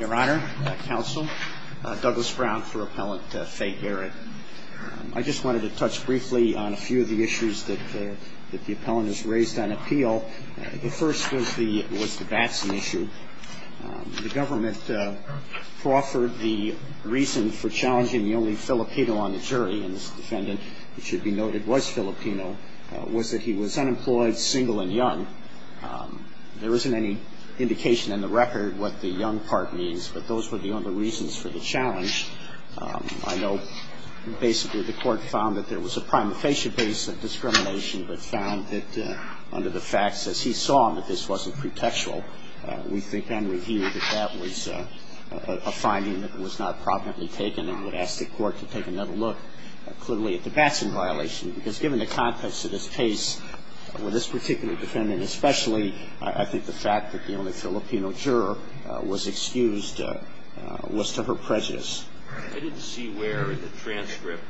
Your Honor, Counsel, Douglas Brown for Appellant Fe Garrett. I just wanted to touch briefly on a few of the issues that the Appellant has raised on appeal. The first was the Batson issue. The government proffered the reason for challenging the only Filipino on the jury, and this defendant, it should be noted, was Filipino, was that he was unemployed, single, and young. There isn't any indication in the record what the young part means, but those were the only reasons for the challenge. I know basically the court found that there was a prima facie base of discrimination, but found that under the facts, as he saw that this wasn't pretextual, we think then reviewed that that was a finding that was not properly taken and would ask the court to take another look clearly at the Batson violation. Because given the context of this case, with this particular defendant especially, I think the fact that the only Filipino juror was excused was to her prejudice. I didn't see where in the transcript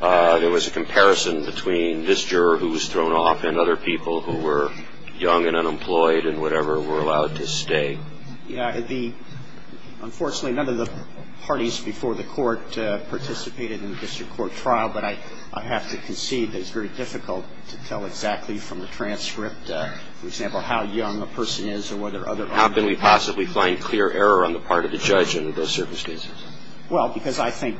there was a comparison between this juror who was thrown off and other people who were young and unemployed and whatever were allowed to stay. Unfortunately, none of the parties before the court participated in the district court trial, but I have to concede that it's very difficult to tell exactly from the transcript, for example, how young a person is or whether other are. How can we possibly find clear error on the part of the judge in those service cases? Well, because I think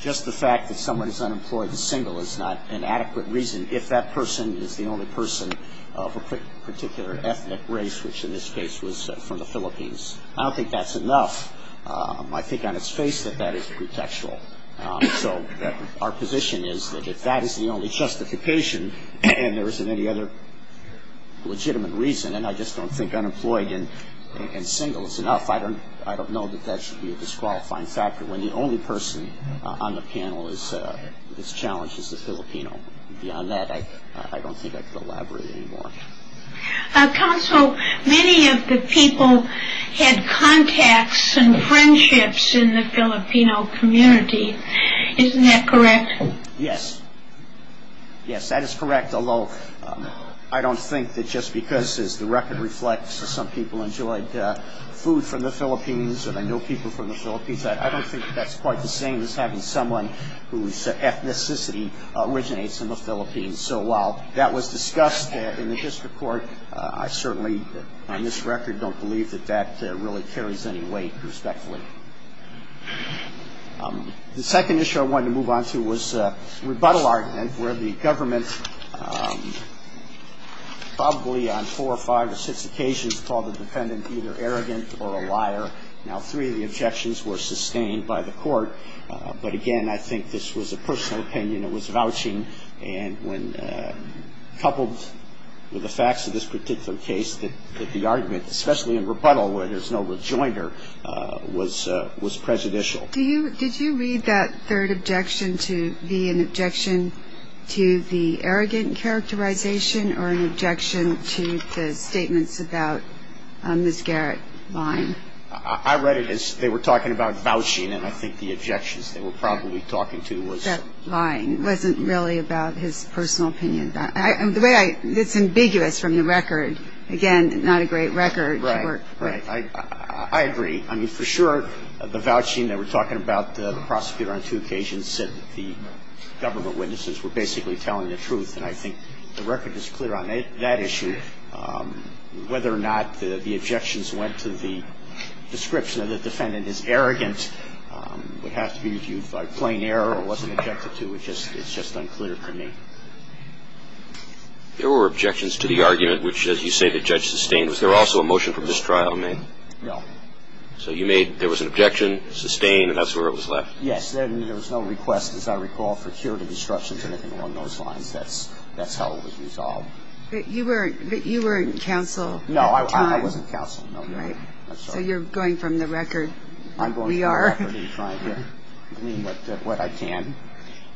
just the fact that someone is unemployed and single is not an adequate reason if that person is the only person of a particular ethnic race, which in this case was from the Philippines. I don't think that's enough. I think on its face that that is pretextual. So our position is that if that is the only justification and there isn't any other legitimate reason, and I just don't think unemployed and single is enough, I don't know that that should be a disqualifying factor when the only person on the panel that's challenged is the Filipino. Beyond that, I don't think I could elaborate any more. Counsel, many of the people had contacts and friendships in the Filipino community. Isn't that correct? Yes. Yes, that is correct, although I don't think that just because, as the record reflects, some people enjoyed food from the Philippines and I know people from the Philippines, I don't think that's quite the same as having someone whose ethnicity originates in the Philippines. So while that was discussed in the district court, I certainly on this record don't believe that that really carries any weight respectfully. The second issue I wanted to move on to was rebuttal argument, where the government probably on four or five or six occasions called the defendant either arrogant or a liar. Now, three of the objections were sustained by the court, but again, I think this was a personal opinion. It was vouching and when coupled with the facts of this particular case that the argument, especially in rebuttal where there's no rejoinder, was prejudicial. Did you read that third objection to be an objection to the arrogant characterization or an objection to the statements about Ms. Garrett lying? I read it as they were talking about vouching, and I think the objections they were probably talking to was. That lying wasn't really about his personal opinion. The way I, it's ambiguous from the record. Again, not a great record. Right, right. I agree. I mean, for sure, the vouching they were talking about, the prosecutor on two occasions said that the government witnesses were basically telling the truth, and I think the record is clear on that issue. I don't know whether or not the objections went to the description that the defendant is arrogant. It would have to be viewed by plain error or wasn't objected to. It's just unclear to me. There were objections to the argument, which, as you say, the judge sustained. Was there also a motion for mistrial, I mean? No. So you made there was an objection, sustained, and that's where it was left? Yes. There was no request, as I recall, for curative instructions or anything along those lines. That's how it was resolved. But you weren't counsel at the time. No, I wasn't counsel. Right. So you're going from the record. I'm going from the record and trying to glean what I can.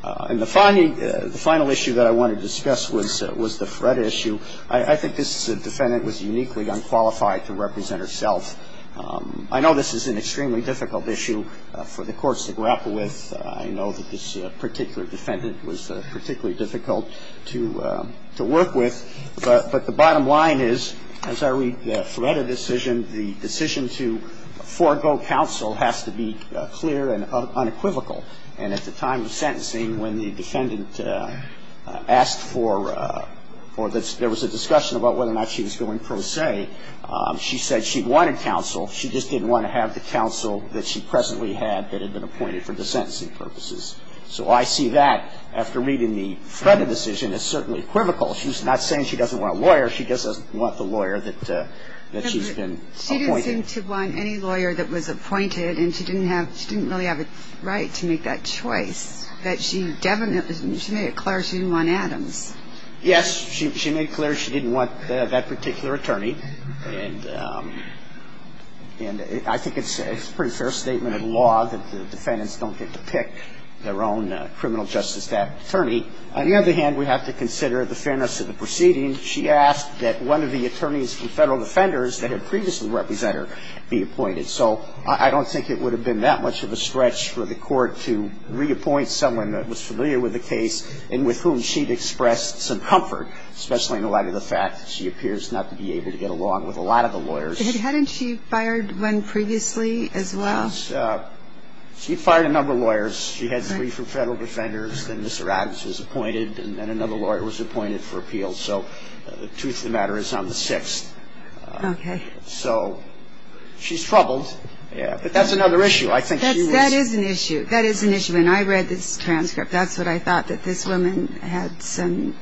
And the final issue that I want to discuss was the Fred issue. I think this defendant was uniquely unqualified to represent herself. I know this is an extremely difficult issue for the courts to grapple with. I know that this particular defendant was particularly difficult to work with. But the bottom line is, as I read the Freda decision, the decision to forego counsel has to be clear and unequivocal. And at the time of sentencing, when the defendant asked for or there was a discussion about whether or not she was going pro se, she said she wanted counsel. She just didn't want to have the counsel that she presently had that had been appointed for the sentencing purposes. So I see that, after reading the Freda decision, as certainly equivocal. She's not saying she doesn't want a lawyer. She just doesn't want the lawyer that she's been appointed. She didn't seem to want any lawyer that was appointed. And she didn't really have a right to make that choice. She made it clear she didn't want Adams. Yes. She made it clear she didn't want that particular attorney. And I think it's a pretty fair statement of law that the defendants don't get to pick their own criminal justice attorney. On the other hand, we have to consider the fairness of the proceeding. She asked that one of the attorneys from federal defenders that had previously represented her be appointed. So I don't think it would have been that much of a stretch for the court to reappoint someone that was familiar with the case and with whom she'd expressed some comfort, especially in the light of the fact that she appears not to be able to get along with a lot of the lawyers. Hadn't she fired one previously as well? She fired a number of lawyers. She had three from federal defenders. Then Mr. Adams was appointed. And then another lawyer was appointed for appeal. So the truth of the matter is I'm the sixth. Okay. So she's troubled. Yeah. But that's another issue. That is an issue. That is an issue. When I read this transcript, that's what I thought, that this woman had some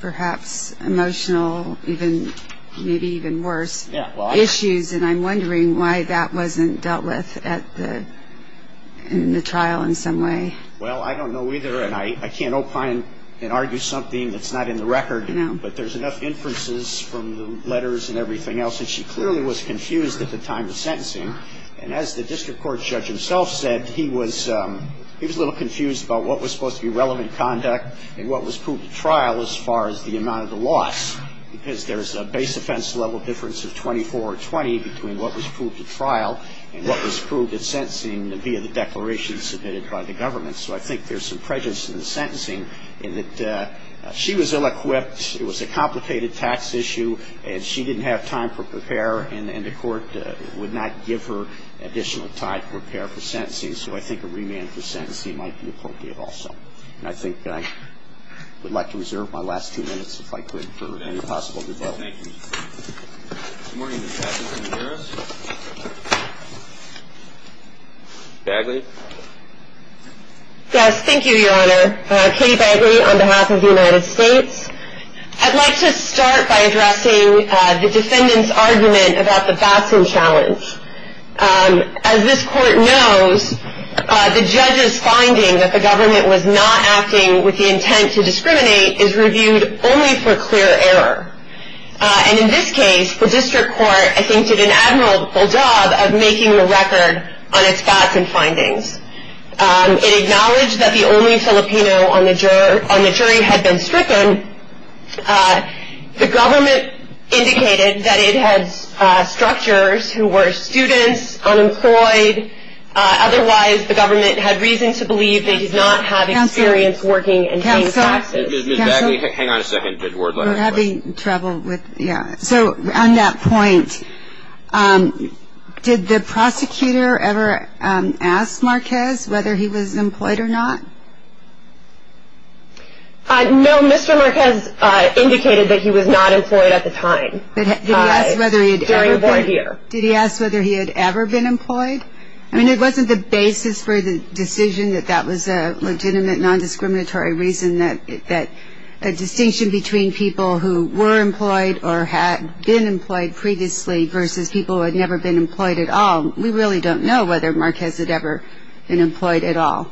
perhaps emotional, maybe even worse, issues. And I'm wondering why that wasn't dealt with in the trial in some way. Well, I don't know either. And I can't opine and argue something that's not in the record. But there's enough inferences from the letters and everything else. And she clearly was confused at the time of sentencing. And as the district court judge himself said, he was a little confused about what was supposed to be relevant conduct and what was proved at trial as far as the amount of the loss. Because there's a base offense level difference of 24 or 20 between what was proved at trial and what was proved at sentencing via the declaration submitted by the government. So I think there's some prejudice in the sentencing in that she was ill-equipped. It was a complicated tax issue. And she didn't have time to prepare. And the court would not give her additional time to prepare for sentencing. So I think a remand for sentencing might be appropriate also. And I think I would like to reserve my last two minutes if I could for any possible debate. Thank you. Good morning, Ms. Bagley. Yes, thank you, Your Honor. Katie Bagley on behalf of the United States. I'd like to start by addressing the defendant's argument about the Batson challenge. As this court knows, the judge's finding that the government was not acting with the intent to discriminate is reviewed only for clear error. And in this case, the district court, I think, did an admirable job of making the record on its Batson findings. It acknowledged that the only Filipino on the jury had been stricken. The government indicated that it had structures who were students, unemployed. Otherwise, the government had reason to believe they did not have experience working in paying taxes. Counsel? Ms. Bagley, hang on a second. There's a word letter. We're having trouble with, yeah. So on that point, did the prosecutor ever ask Marquez whether he was employed or not? No, Mr. Marquez indicated that he was not employed at the time during the board year. Did he ask whether he had ever been employed? I mean, it wasn't the basis for the decision that that was a legitimate nondiscriminatory reason, that a distinction between people who were employed or had been employed previously versus people who had never been employed at all. We really don't know whether Marquez had ever been employed at all.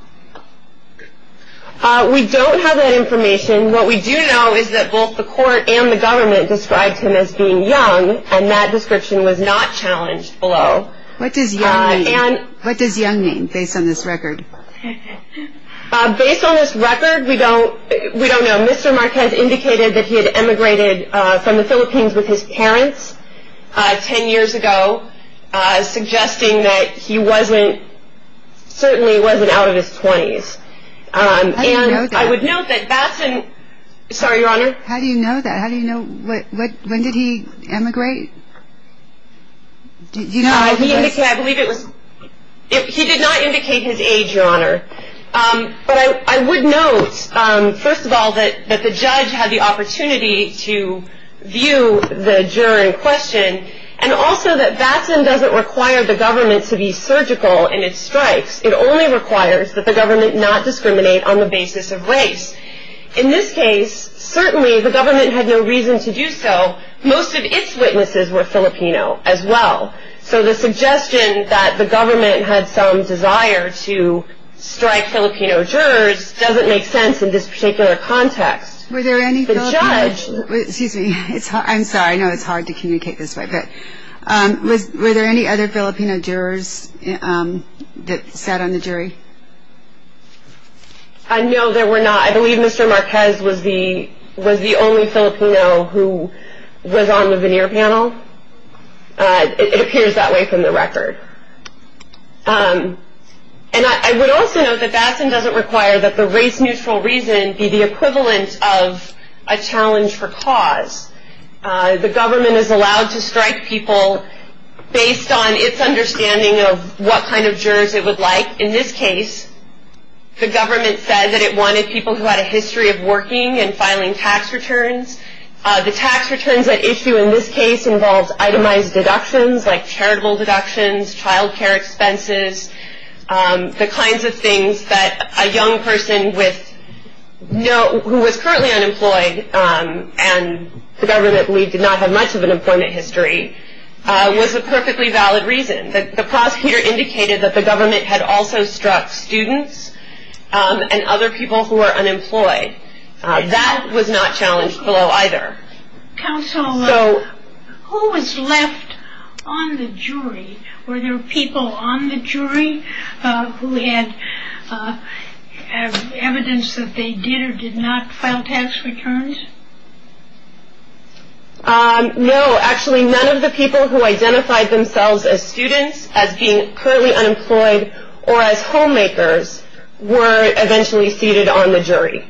We don't have that information. What we do know is that both the court and the government described him as being young, and that description was not challenged below. What does young mean based on this record? Based on this record, we don't know. Mr. Marquez indicated that he had emigrated from the Philippines with his parents 10 years ago, suggesting that he wasn't, certainly wasn't out of his 20s. How do you know that? I would note that that's an, sorry, Your Honor. How do you know that? How do you know, when did he emigrate? Do you know? He indicated, I believe it was, he did not indicate his age, Your Honor. But I would note, first of all, that the judge had the opportunity to view the juror in question, and also that Batson doesn't require the government to be surgical in its strikes. It only requires that the government not discriminate on the basis of race. In this case, certainly the government had no reason to do so. Most of its witnesses were Filipino as well. So the suggestion that the government had some desire to strike Filipino jurors doesn't make sense in this particular context. Were there any Filipino? The judge. Excuse me. I'm sorry. I know it's hard to communicate this way. But were there any other Filipino jurors that sat on the jury? No, there were not. I believe Mr. Marquez was the only Filipino who was on the veneer panel. It appears that way from the record. And I would also note that Batson doesn't require that the race-neutral reason be the equivalent of a challenge for cause. The government is allowed to strike people based on its understanding of what kind of jurors it would like. In this case, the government said that it wanted people who had a history of working and filing tax returns. The tax returns at issue in this case involved itemized deductions like charitable deductions, child care expenses, the kinds of things that a young person who was currently unemployed and the government, we did not have much of an employment history, was a perfectly valid reason. The prosecutor indicated that the government had also struck students and other people who were unemployed. That was not challenged below either. Counsel, who was left on the jury? Were there people on the jury who had evidence that they did or did not file tax returns? No, actually none of the people who identified themselves as students, as being currently unemployed, or as homemakers were eventually seated on the jury.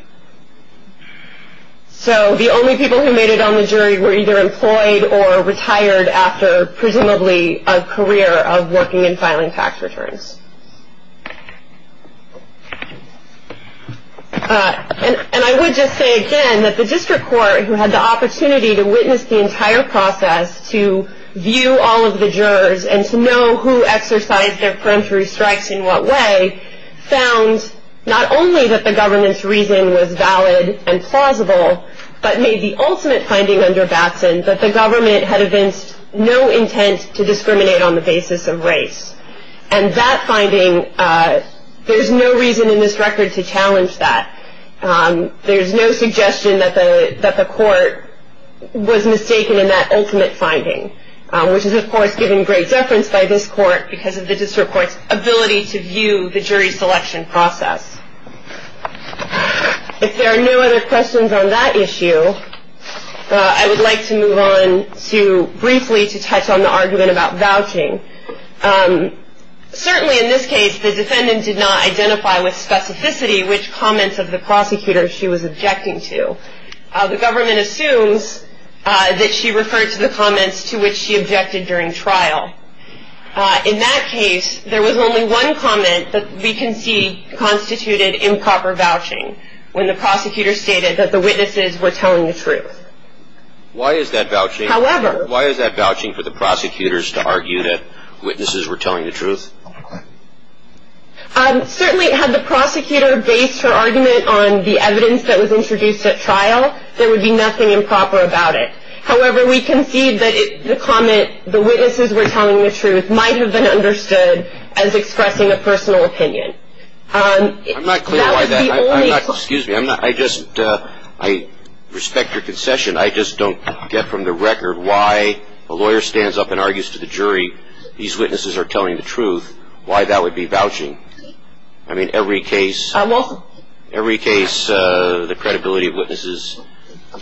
So the only people who made it on the jury were either employed or retired after presumably a career of working and filing tax returns. And I would just say again that the district court, who had the opportunity to witness the entire process, to view all of the jurors and to know who exercised their peremptory strikes in what way, found not only that the government's reason was valid and plausible, but made the ultimate finding under Batson that the government had evinced no intent to discriminate on the basis of race. And that finding, there's no reason in this record to challenge that. There's no suggestion that the court was mistaken in that ultimate finding, which is of course given great deference by this court because of the district court's ability to view the jury selection process. If there are no other questions on that issue, I would like to move on to briefly to touch on the argument about vouching. Certainly in this case, the defendant did not identify with specificity which comments of the prosecutor she was objecting to. The government assumes that she referred to the comments to which she objected during trial. In that case, there was only one comment that we can see constituted improper vouching, when the prosecutor stated that the witnesses were telling the truth. Why is that vouching? However. Why is that vouching for the prosecutors to argue that witnesses were telling the truth? Certainly had the prosecutor based her argument on the evidence that was introduced at trial, there would be nothing improper about it. However, we can see that the comment, the witnesses were telling the truth, might have been understood as expressing a personal opinion. I'm not clear why that, I'm not, excuse me, I'm not, I just, I respect your concession, I just don't get from the record why a lawyer stands up and argues to the jury, these witnesses are telling the truth, why that would be vouching. I mean every case, every case the credibility of witnesses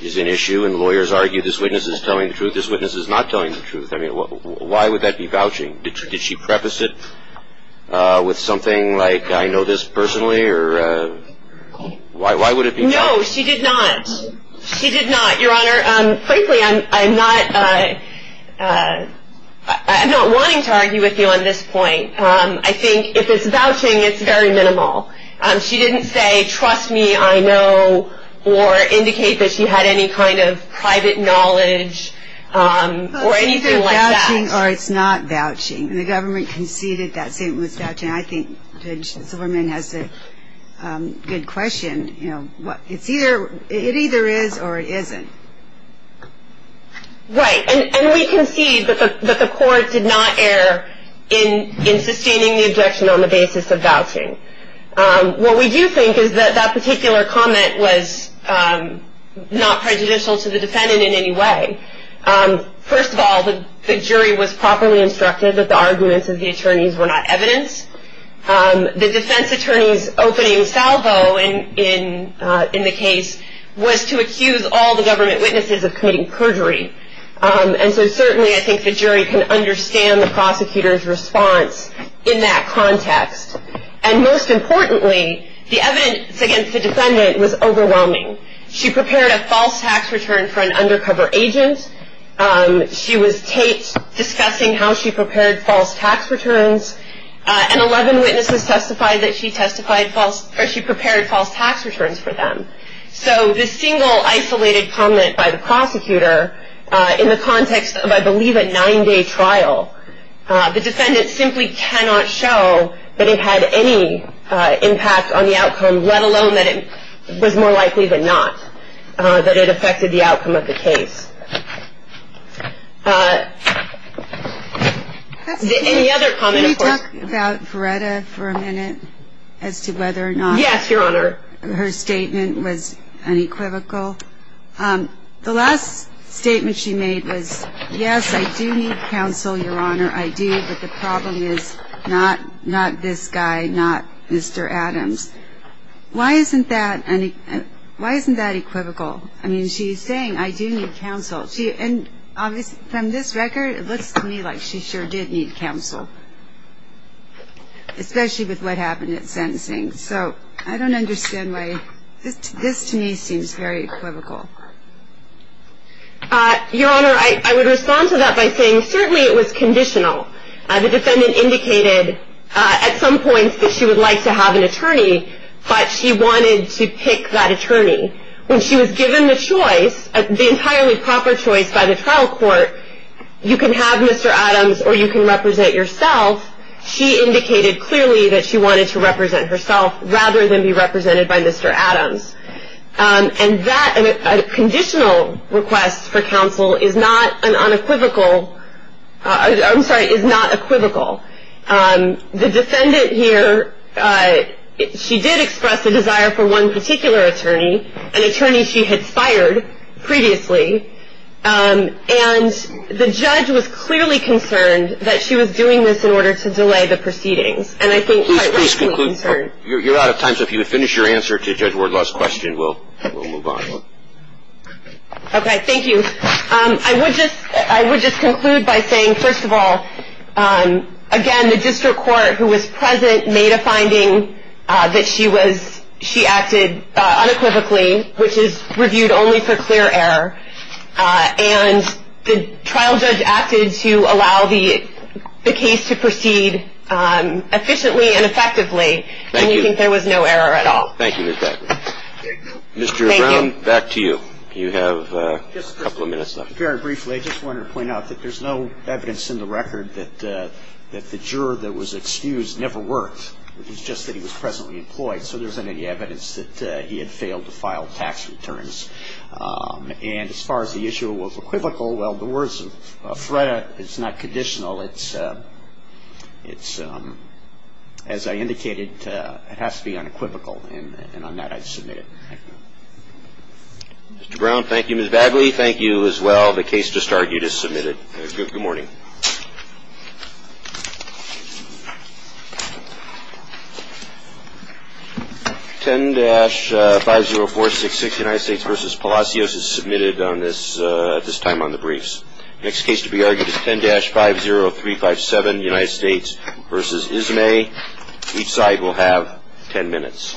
is an issue and lawyers argue this witness is telling the truth, this witness is not telling the truth. I mean why would that be vouching? Did she preface it with something like I know this personally or why would it be? No, she did not. She did not. Your Honor, frankly I'm not, I'm not wanting to argue with you on this point. I think if it's vouching it's very minimal. She didn't say trust me I know or indicate that she had any kind of private knowledge or anything like that. It's either or it's not vouching and the government conceded that statement was vouching. I think Judge Silverman has a good question. It's either, it either is or it isn't. Right, and we concede that the court did not err in sustaining the objection on the basis of vouching. What we do think is that that particular comment was not prejudicial to the defendant in any way. First of all, the jury was properly instructed that the arguments of the attorneys were not evidence. The defense attorney's opening salvo in the case was to accuse all the government witnesses of committing perjury. And so certainly I think the jury can understand the prosecutor's response in that context. And most importantly, the evidence against the defendant was overwhelming. She prepared a false tax return for an undercover agent. She was taped discussing how she prepared false tax returns. And 11 witnesses testified that she prepared false tax returns for them. So the single isolated comment by the prosecutor in the context of I believe a nine-day trial, the defendant simply cannot show that it had any impact on the outcome, let alone that it was more likely than not that it affected the outcome of the case. Any other comment? Can we talk about Verretta for a minute as to whether or not her statement was unequivocal? The last statement she made was, yes, I do need counsel, Your Honor, I do, but the problem is not this guy, not Mr. Adams. Why isn't that equivocal? I mean, she's saying, I do need counsel. And from this record, it looks to me like she sure did need counsel, especially with what happened at sentencing. So I don't understand why this to me seems very equivocal. Your Honor, I would respond to that by saying certainly it was conditional. The defendant indicated at some points that she would like to have an attorney, but she wanted to pick that attorney. When she was given the choice, the entirely proper choice by the trial court, you can have Mr. Adams or you can represent yourself, she indicated clearly that she wanted to represent herself rather than be represented by Mr. Adams. And that conditional request for counsel is not an unequivocal, I'm sorry, is not equivocal. The defendant here, she did express a desire for one particular attorney, an attorney she had fired previously, and the judge was clearly concerned that she was doing this in order to delay the proceedings. And I think quite rightly concerned. Please conclude. You're out of time, so if you would finish your answer to Judge Wardlaw's question, we'll move on. Okay. Thank you. I would just conclude by saying, first of all, again, the district court, who was present, made a finding that she was, she acted unequivocally, which is reviewed only for clear error, and the trial judge acted to allow the case to proceed efficiently and effectively, and you think there was no error at all. Thank you. Mr. Brown, back to you. You have a couple of minutes left. Very briefly, I just wanted to point out that there's no evidence in the record that the juror that was excused never worked, it was just that he was presently employed, so there isn't any evidence that he had failed to file tax returns. And as far as the issue of equivocal, well, the words of Freda, it's not conditional, it's, as I indicated, it has to be unequivocal, and on that I'd submit it. Thank you. Mr. Brown, thank you. Ms. Bagley, thank you as well. The case just argued is submitted. Good morning. 10-50466, United States v. Palacios, is submitted at this time on the briefs. The next case to be argued is 10-50357, United States v. Ismay. Each side will have ten minutes.